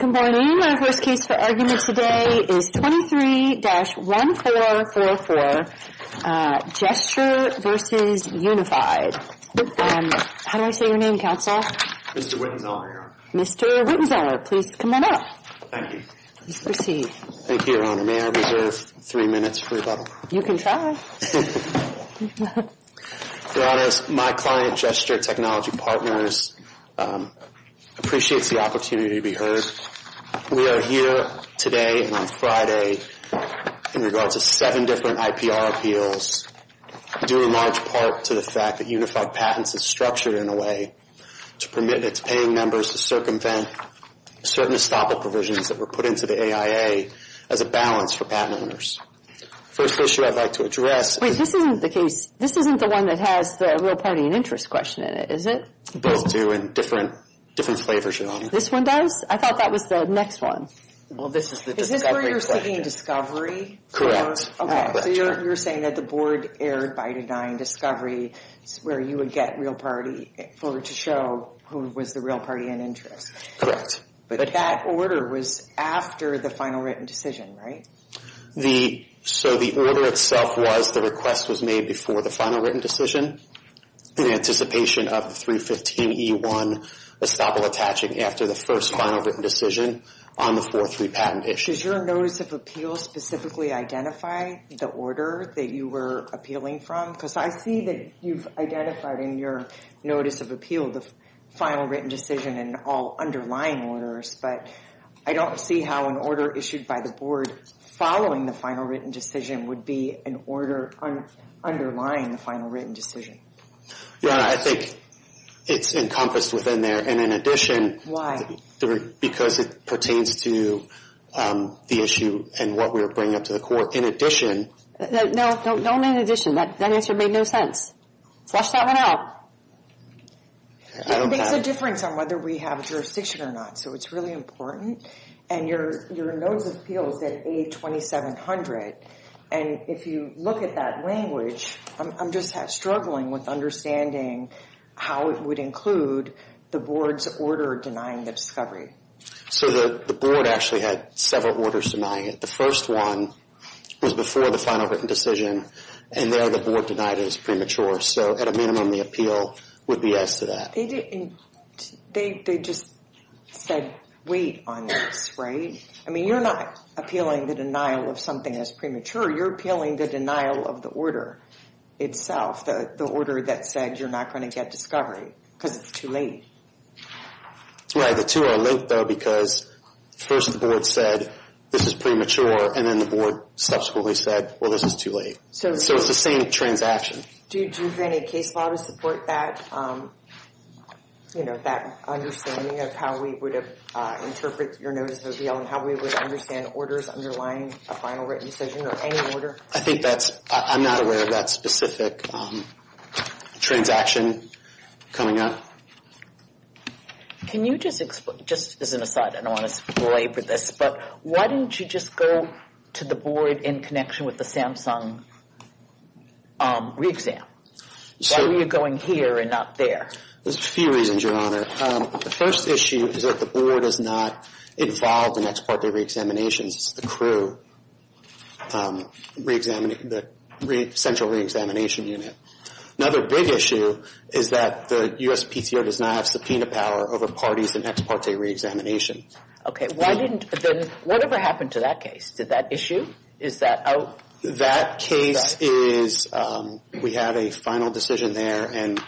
Good morning. Our first case for argument today is 23-1444, Gesture v. Unified. How do I say your name, counsel? Mr. Wittenzeller, Your Honor. Mr. Wittenzeller, please come on up. Thank you. Please proceed. Thank you, Your Honor. May I reserve three minutes for rebuttal? You can try. Your Honor, my client, Gesture Technology Partners, appreciates the opportunity to be heard. We are here today and on Friday in regards to seven different IPR appeals, due in large part to the fact that Unified Patents is structured in a way to permit its paying members to circumvent certain estoppel provisions that were put into the AIA as a balance for patent owners. The first issue I'd like to address is... Wait, this isn't the case. This isn't the one that has the real party and interest question in it, is it? Both do in different flavors, Your Honor. This one does? I thought that was the next one. Well, this is the discovery question. Is this where you're seeking discovery? Correct. Okay, so you're saying that the board erred by denying discovery, where you would get real party to show who was the real party and interest. Correct. But that order was after the final written decision, right? So the order itself was the request was made before the final written decision in anticipation of the 315E1 estoppel attaching after the first final written decision on the 403 patent issue. Does your Notice of Appeal specifically identify the order that you were appealing from? Because I see that you've identified in your Notice of Appeal the final written decision and all underlying orders, but I don't see how an order issued by the board following the final written decision would be an order underlying the final written decision. Your Honor, I think it's encompassed within there. And in addition... Why? Because it pertains to the issue and what we're bringing up to the court. In addition... No, no, no, no in addition. That answer made no sense. Flesh that one out. There's a difference on whether we have jurisdiction or not. So it's really important. And your Notice of Appeal is at A2700. And if you look at that language, I'm just struggling with understanding how it would include the board's order denying the discovery. So the board actually had several orders denying it. The first one was before the final written decision. And there the board denied it as premature. So at a minimum, the appeal would be as to that. They just said, wait on this, right? I mean, you're not appealing the denial of something as premature. You're appealing the denial of the order itself, the order that said you're not going to get discovery because it's too late. Right, the two are linked, though, because first the board said this is premature. And then the board subsequently said, well, this is too late. So it's the same transaction. Do you have any case law to support that, you know, that understanding of how we would interpret your Notice of Appeal and how we would understand orders underlying a final written decision or any order? I think that's – I'm not aware of that specific transaction coming up. Can you just – just as an aside, I don't want to belabor this, but why didn't you just go to the board in connection with the Samsung re-exam? Why were you going here and not there? There's a few reasons, Your Honor. The first issue is that the board is not involved in ex parte re-examinations. It's the crew, the central re-examination unit. Another big issue is that the USPTO does not have subpoena power over parties in ex parte re-examination. Okay. Why didn't – then whatever happened to that case? Did that issue? Is that out? That case is – we have a final decision there, and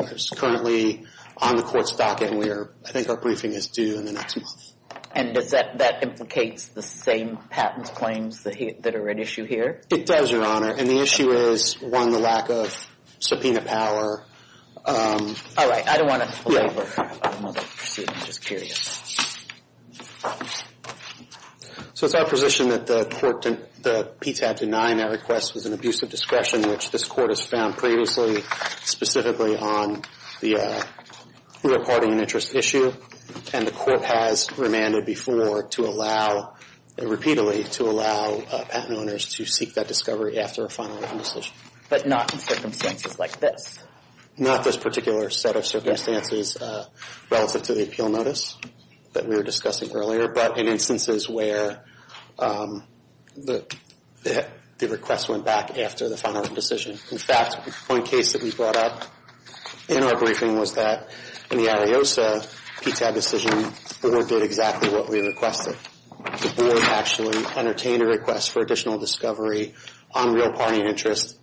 it's currently on the court's docket, and we are – I think our briefing is due in the next month. And does that – that implicates the same patent claims that are at issue here? It does, Your Honor. And the issue is, one, the lack of subpoena power. All right. I don't want to belabor another suit. I'm just curious. So it's our position that the court – that Pete's had denied that request was an abuse of discretion, which this court has found previously, specifically on the rear parting and interest issue. And the court has remanded before to allow – repeatedly to allow patent owners to seek that discovery after a final decision. But not in circumstances like this? Not this particular set of circumstances relative to the appeal notice that we were discussing earlier, but in instances where the request went back after the final written decision. In fact, one case that we brought up in our briefing was that in the Ariosa PTAB decision, the board did exactly what we requested. The board actually entertained a request for additional discovery on rear parting and interest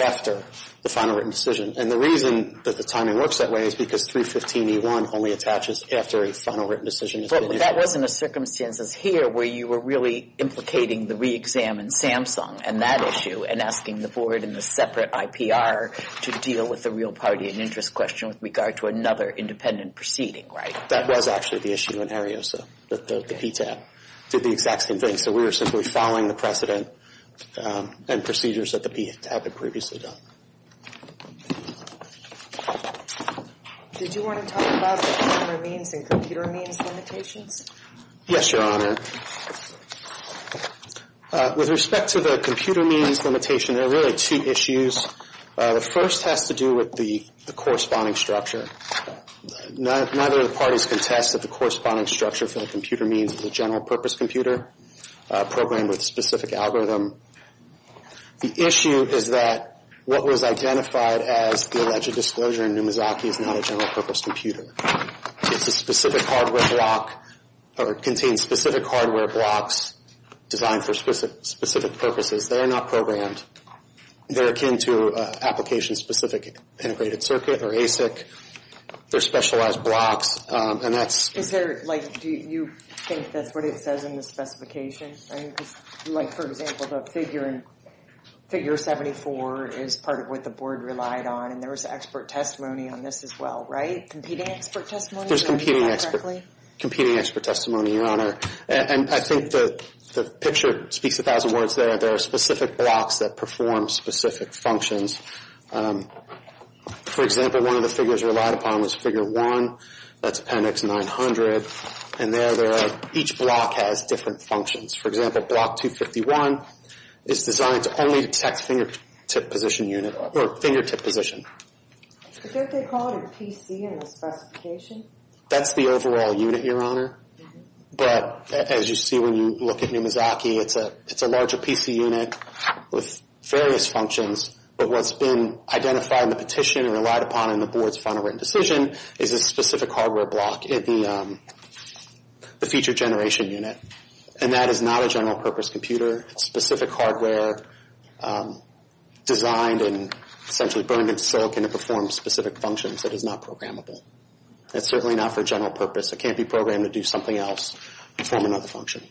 after the final written decision. And the reason that the timing works that way is because 315E1 only attaches after a final written decision has been issued. But that wasn't a circumstances here where you were really implicating the re-exam in Samsung and that issue and asking the board in the separate IPR to deal with the rear parting and interest question with regard to another independent proceeding, right? That was actually the issue in Ariosa. The PTAB did the exact same thing. In the case that we were simply following the precedent and procedures that the PTAB had previously done. Did you want to talk about the consumer means and computer means limitations? Yes, Your Honor. With respect to the computer means limitation, there are really two issues. The first has to do with the corresponding structure. Neither of the parties contested the corresponding structure for the computer means as a general purpose computer programmed with a specific algorithm. The issue is that what was identified as the alleged disclosure in Numizaki is not a general purpose computer. It's a specific hardware block or contains specific hardware blocks designed for specific purposes. They are not programmed. They're akin to application-specific integrated circuit or ASIC. They're specialized blocks. Do you think that's what it says in the specification? For example, the figure 74 is part of what the board relied on. There was expert testimony on this as well, right? Competing expert testimony? There's competing expert testimony, Your Honor. I think the picture speaks a thousand words there. There are specific blocks that perform specific functions. For example, one of the figures relied upon was figure 1. That's appendix 900. And there each block has different functions. For example, block 251 is designed to only detect fingertip position unit or fingertip position. I think they call it a PC in the specification. That's the overall unit, Your Honor. But as you see when you look at Numizaki, it's a larger PC unit with various functions. But what's been identified in the petition and relied upon in the board's final written decision is a specific hardware block in the feature generation unit. And that is not a general purpose computer. It's specific hardware designed and essentially burned in silk, and it performs specific functions. It is not programmable. It's certainly not for general purpose. It can't be programmed to do something else, perform another function.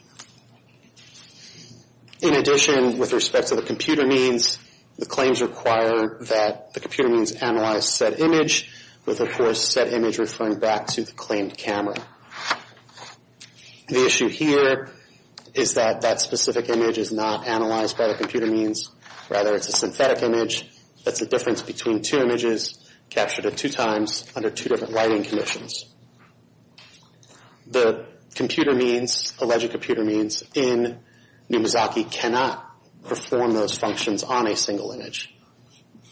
In addition, with respect to the computer means, the claims require that the computer means analyze said image with, of course, said image referring back to the claimed camera. The issue here is that that specific image is not analyzed by the computer means. Rather, it's a synthetic image. That's the difference between two images captured at two times under two different lighting conditions. The computer means, alleged computer means in Numizaki cannot perform those functions on a single image.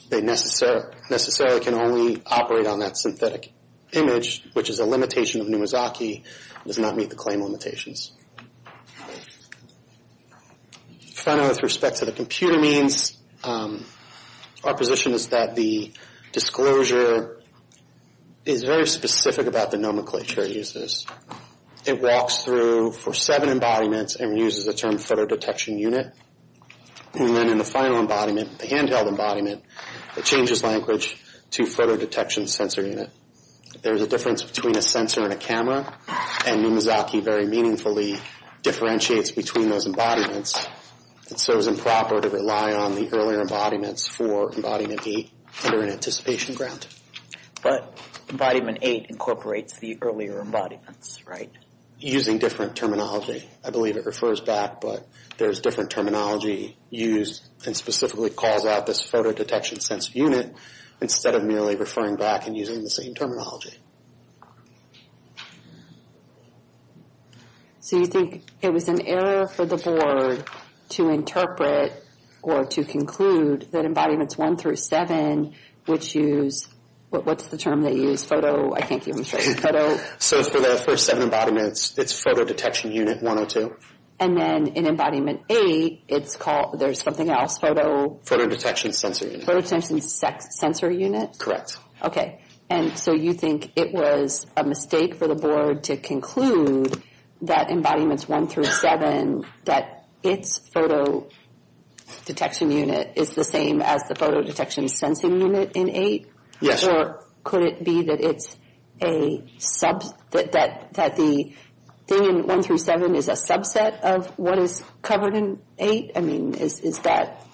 They necessarily can only operate on that synthetic image, which is a limitation of Numizaki. It does not meet the claim limitations. Finally, with respect to the computer means, our position is that the disclosure is very specific about the nomenclature it uses. It walks through for seven embodiments and uses the term photo detection unit. Then in the final embodiment, the handheld embodiment, it changes language to photo detection sensor unit. There's a difference between a sensor and a camera, and Numizaki very meaningfully differentiates between those embodiments. It serves improper to rely on the earlier embodiments for embodiment eight under an anticipation ground. But embodiment eight incorporates the earlier embodiments, right? Using different terminology. I believe it refers back, but there's different terminology used and specifically calls out this photo detection sensor unit instead of merely referring back and using the same terminology. So you think it was an error for the board to interpret or to conclude that embodiments one through seven, which use, what's the term they use? Photo, I can't give them a straight photo. So for the first seven embodiments, it's photo detection unit 102. And then in embodiment eight, it's called, there's something else, photo? Photo detection sensor unit. Photo detection sensor unit? Correct. Okay, and so you think it was a mistake for the board to conclude that embodiments one through seven, that its photo detection unit is the same as the photo detection sensor unit in eight? Yes. Or could it be that it's a subset, that the thing in one through seven is a subset of what is covered in eight? I mean, is that,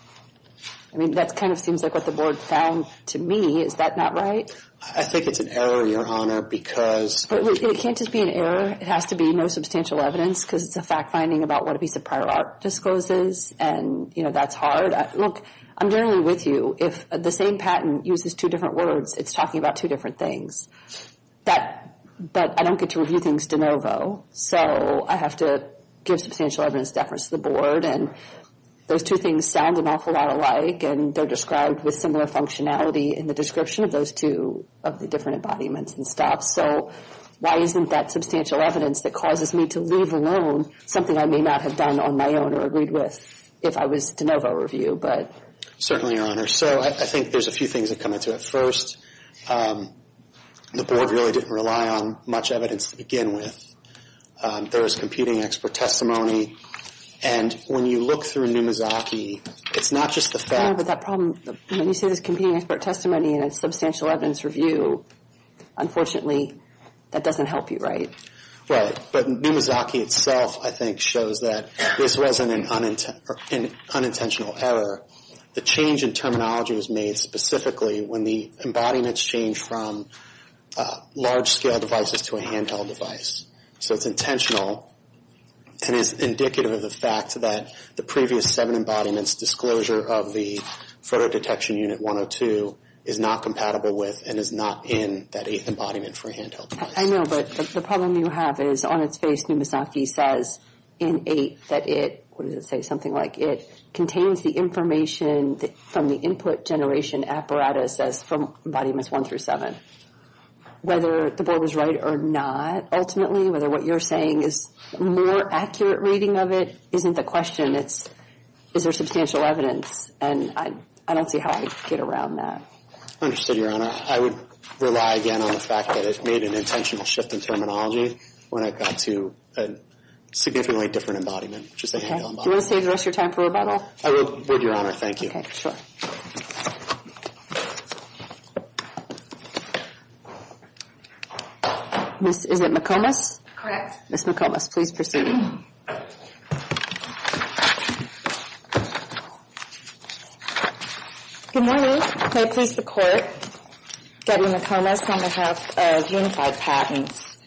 I mean, that kind of seems like what the board found to me. Is that not right? I think it's an error, Your Honor, because... It can't just be an error. It has to be no substantial evidence because it's a fact finding about what a piece of prior art discloses. And, you know, that's hard. Look, I'm generally with you. If the same patent uses two different words, it's talking about two different things. But I don't get to review things de novo, so I have to give substantial evidence to the board. And those two things sound an awful lot alike, and they're described with similar functionality in the description of those two, of the different embodiments and stuff. So why isn't that substantial evidence that causes me to leave alone something I may not have done on my own or agreed with if I was de novo review? Certainly, Your Honor. So I think there's a few things that come into it. First, the board really didn't rely on much evidence to begin with. There was competing expert testimony. And when you look through Numizaki, it's not just the fact... But that problem, when you say there's competing expert testimony and a substantial evidence review, unfortunately, that doesn't help you, right? Right. But Numizaki itself, I think, shows that this wasn't an unintentional error. The change in terminology was made specifically when the embodiments changed from large-scale devices to a handheld device. So it's intentional and is indicative of the fact that the previous seven embodiments disclosure of the photo detection unit 102 is not compatible with and is not in that eighth embodiment for a handheld device. I know, but the problem you have is on its face Numizaki says in eight that it, what does it say, something like, it contains the information from the input generation apparatus as from embodiments one through seven. Whether the board was right or not, ultimately, whether what you're saying is a more accurate reading of it isn't the question. It's is there substantial evidence. And I don't see how I'd get around that. Understood, Your Honor. I would rely again on the fact that it made an intentional shift in terminology when it got to a significantly different embodiment, which is a handheld embodiment. Do you want to save the rest of your time for rebuttal? I would, Your Honor. Thank you. Okay, sure. Is it McComas? Correct. Ms. McComas, please proceed. Good morning. May it please the Court, Debbie McComas on behalf of Unified Patents.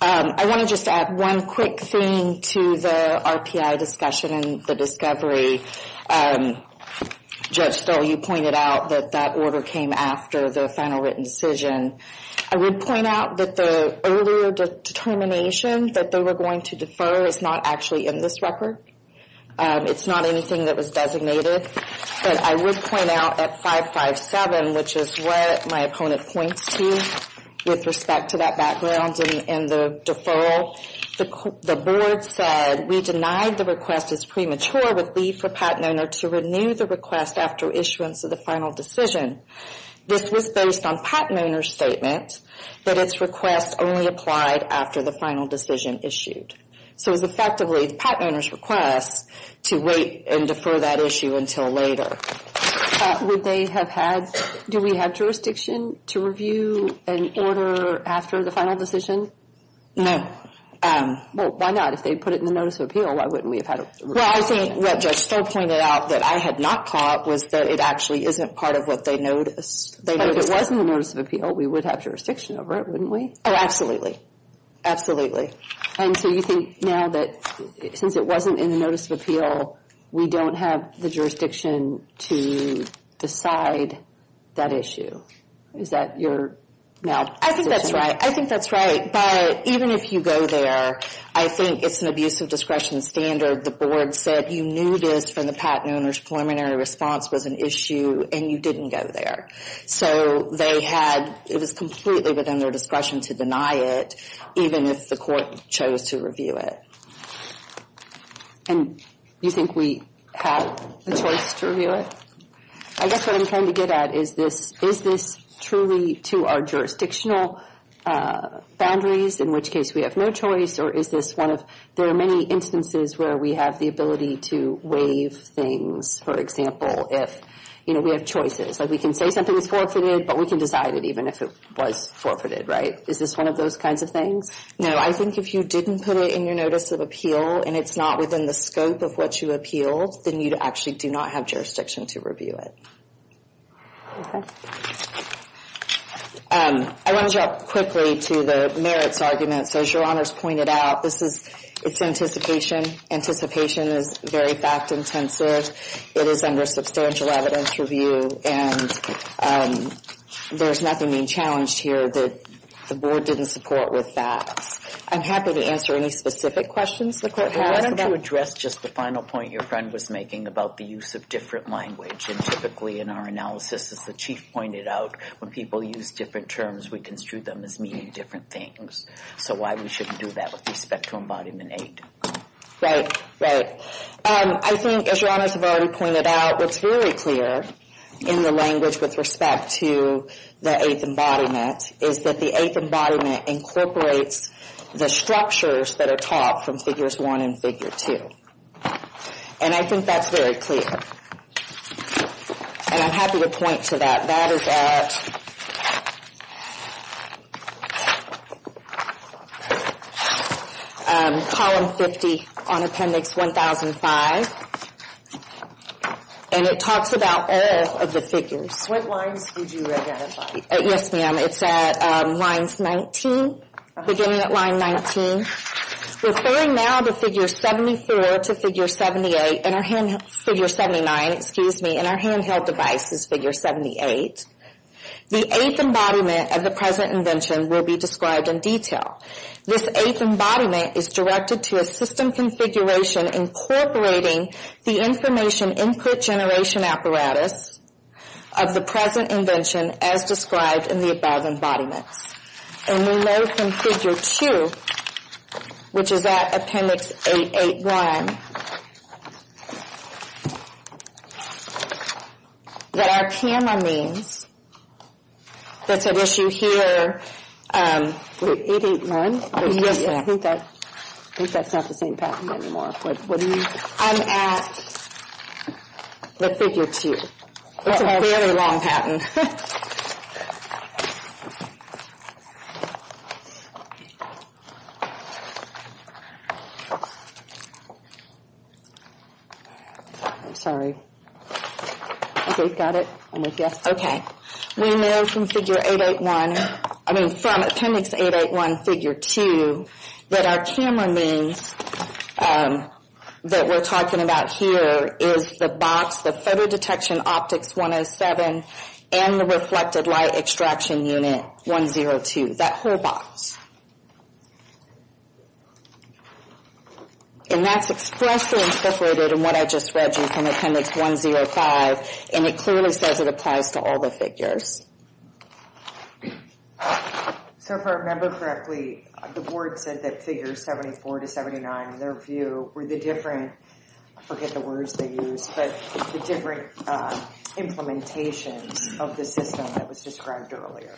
I want to just add one quick thing to the RPI discussion and the discovery. Judge Stoll, you pointed out that that order came after the final written decision. I would point out that the earlier determination that they were going to defer is not actually in this record. It's not anything that was designated. But I would point out at 557, which is what my opponent points to, with respect to that background and the deferral, the board said we denied the request as premature with leave for patent owner to renew the request after issuance of the final decision. This was based on patent owner's statement that its request only applied after the final decision issued. So it was effectively the patent owner's request to wait and defer that issue until later. Would they have had, do we have jurisdiction to review an order after the final decision? No. Well, why not? If they put it in the notice of appeal, why wouldn't we have had it reviewed? Well, I think what Judge Stoll pointed out that I had not caught was that it actually isn't part of what they noticed. But if it was in the notice of appeal, we would have jurisdiction over it, wouldn't we? Oh, absolutely. Absolutely. And so you think now that since it wasn't in the notice of appeal, we don't have the jurisdiction to decide that issue? Is that your now position? I think that's right. I think that's right. But even if you go there, I think it's an abuse of discretion standard. The board said you knew this from the patent owner's preliminary response was an issue, and you didn't go there. So they had, it was completely within their discretion to deny it, even if the court chose to review it. And you think we have a choice to review it? I guess what I'm trying to get at is this, is this truly to our jurisdictional boundaries, in which case we have no choice, or is this one of, there are many instances where we have the ability to waive things, for example, if, you know, we have choices. Like we can say something is forfeited, but we can decide it even if it was forfeited, right? Is this one of those kinds of things? No, I think if you didn't put it in your notice of appeal, and it's not within the scope of what you appealed, then you actually do not have jurisdiction to review it. Okay. I want to jump quickly to the merits argument. So as Your Honors pointed out, this is, it's anticipation. Anticipation is very fact intensive. It is under substantial evidence review, and there's nothing being challenged here that the Board didn't support with facts. I'm happy to answer any specific questions the Court has. Why don't you address just the final point your friend was making about the use of different language. And typically in our analysis, as the Chief pointed out, when people use different terms, we construe them as meaning different things. So why we shouldn't do that with respect to embodiment aid? Right, right. I think, as Your Honors have already pointed out, what's very clear in the language with respect to the eighth embodiment is that the eighth embodiment incorporates the structures that are taught from figures one and figure two. And I think that's very clear. And I'm happy to point to that. That is at column 50 on appendix 1005. And it talks about all of the figures. What lines would you identify? Yes, ma'am. It's at lines 19, beginning at line 19. Referring now to figure 74 to figure 78, figure 79, excuse me, and our handheld device is figure 78, the eighth embodiment of the present invention will be described in detail. This eighth embodiment is directed to a system configuration incorporating the information input generation apparatus of the present invention as described in the above embodiments. And we know from figure two, which is at appendix 881, that our P.M.R. means, that's at issue here. 881? I think that's not the same pattern anymore. What do you mean? I'm at the figure two. It's a fairly long pattern. I'm sorry. Okay, got it? Yes. Okay. We know from figure 881, I mean from appendix 881, figure two, that our P.M.R. means that we're talking about here is the box, the photo detection optics 107 and the reflected light extraction unit 102, that whole box. And that's expressly incorporated in what I just read you from appendix 105, and it clearly says it applies to all the figures. So if I remember correctly, the board said that figures 74 to 79, in their view, were the different, I forget the words they used, but the different implementations of the system that was described earlier.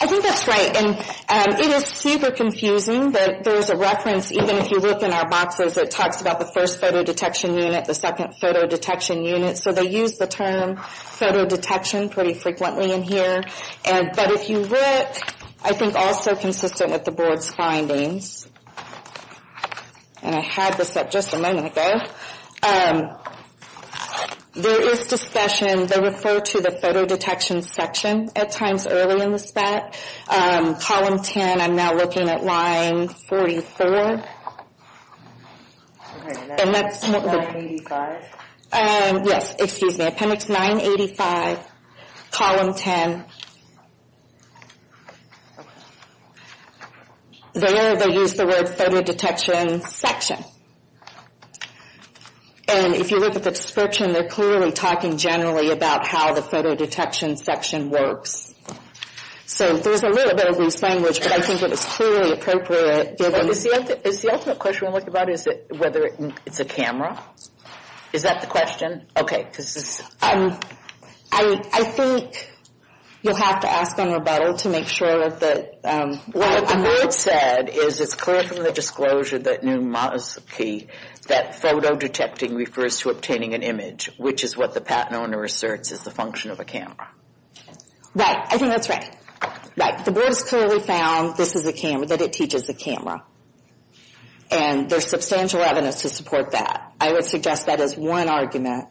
I think that's right. And it is super confusing that there's a reference, even if you look in our boxes, that talks about the first photo detection unit, the second photo detection unit. So they use the term photo detection pretty frequently in here. But if you look, I think also consistent with the board's findings, and I had this up just a moment ago, there is discussion, they refer to the photo detection section at times early in the spec. Column 10, I'm now looking at line 44. And that's not the. Yes, excuse me. Appendix 985, column 10. There they use the word photo detection section. And if you look at the description, they're clearly talking generally about how the photo detection section works. So there's a little bit of loose language, but I think it is clearly appropriate. Is the ultimate question we're looking about is whether it's a camera? Is that the question? Okay, this is. I think you'll have to ask on rebuttal to make sure that the. What the board said is it's clear from the disclosure that knew Mosky that photo detecting refers to obtaining an image, which is what the patent owner asserts is the function of a camera. Right, I think that's right. Right, the board has clearly found this is a camera, that it teaches a camera. And there's substantial evidence to support that. I would suggest that is one argument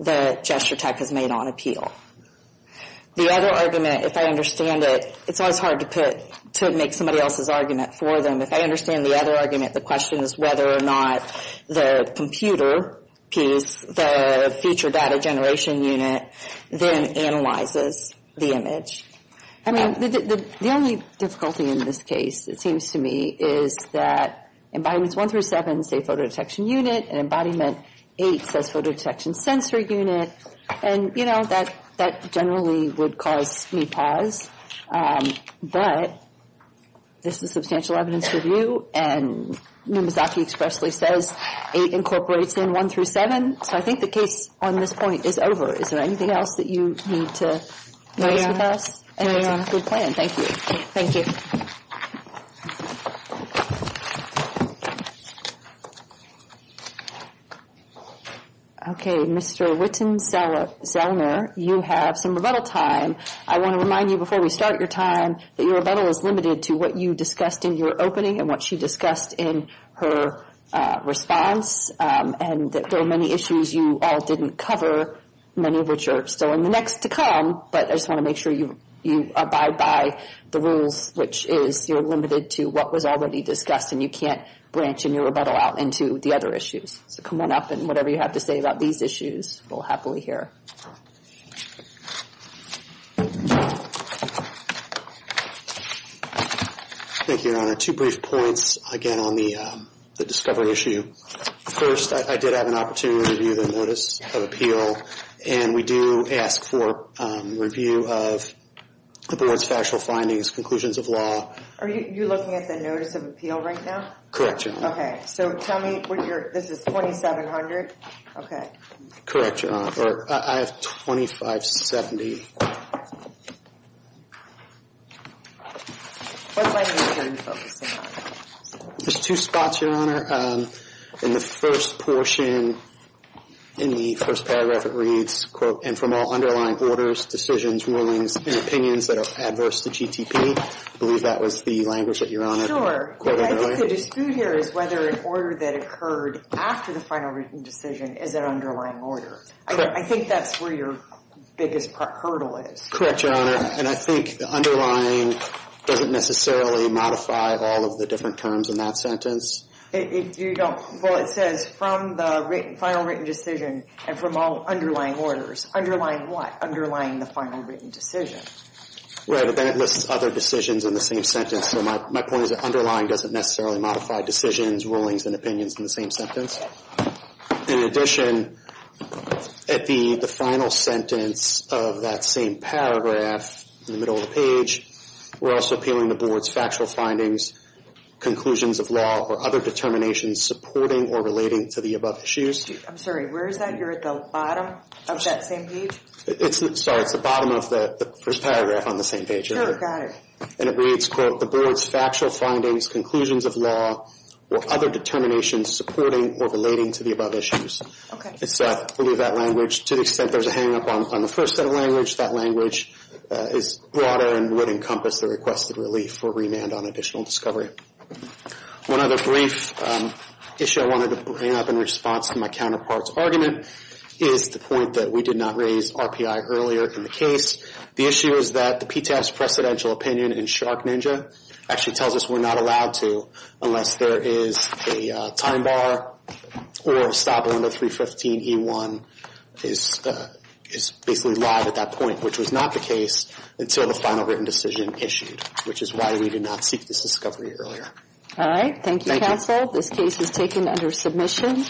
that Gesture Tech has made on appeal. The other argument, if I understand it, it's always hard to make somebody else's argument for them. If I understand the other argument, the question is whether or not the computer piece, the future data generation unit, then analyzes the image. I mean, the only difficulty in this case, it seems to me, is that Embodiments 1 through 7 say photo detection unit, and Embodiment 8 says photo detection sensor unit. And, you know, that generally would cause me pause. But this is substantial evidence review, and Numizaki expressly says 8 incorporates in 1 through 7. So I think the case on this point is over. Is there anything else that you need to address with us? And it's a good plan. Thank you. Thank you. Thank you. Okay. Mr. Whitten-Zellner, you have some rebuttal time. I want to remind you before we start your time that your rebuttal is limited to what you discussed in your opening and what she discussed in her response, and that there are many issues you all didn't cover, many of which are still in the next to come. But I just want to make sure you abide by the rules, which is you're limited to what was already discussed and you can't branch in your rebuttal out into the other issues. So come on up, and whatever you have to say about these issues, we'll happily hear. Thank you, Your Honor. Two brief points, again, on the discovery issue. First, I did have an opportunity to review the Notice of Appeal, and we do ask for review of the Board's factual findings, conclusions of law. Are you looking at the Notice of Appeal right now? Correct, Your Honor. Okay. So tell me when you're – this is 2700? Okay. Correct, Your Honor. Or I have 2570. There's two spots, Your Honor. In the first portion, in the first paragraph, it reads, quote, and from all underlying orders, decisions, rulings, and opinions that are adverse to GTP. I believe that was the language that you were on. I think the dispute here is whether an order that occurred after the final written decision is an underlying order. I think that's where your biggest hurdle is. Correct, Your Honor. And I think the underlying doesn't necessarily modify all of the different terms in that sentence. Well, it says, from the final written decision and from all underlying orders. Underlying what? Underlying the final written decision. Right, but then it lists other decisions in the same sentence. So my point is that underlying doesn't necessarily modify decisions, rulings, and opinions in the same sentence. In addition, at the final sentence of that same paragraph, in the middle of the page, we're also appealing the Board's factual findings, conclusions of law, or other determinations supporting or relating to the above issues. I'm sorry, where is that? You're at the bottom of that same page? Sorry, it's the bottom of the first paragraph on the same page. Oh, got it. And it reads, quote, the Board's factual findings, conclusions of law, or other determinations supporting or relating to the above issues. Okay. So I believe that language, to the extent there's a hangup on the first set of language, that language is broader and would encompass the requested relief for remand on additional discovery. One other brief issue I wanted to bring up in response to my counterpart's argument is the point that we did not raise RPI earlier in the case. The issue is that the PTAS precedential opinion in Shark Ninja actually tells us we're not allowed to unless there is a time bar or a stop window 315E1 is basically live at that point, which was not the case until the final written decision issued, which is why we did not seek this discovery earlier. All right. Thank you, counsel. This case is taken under submission.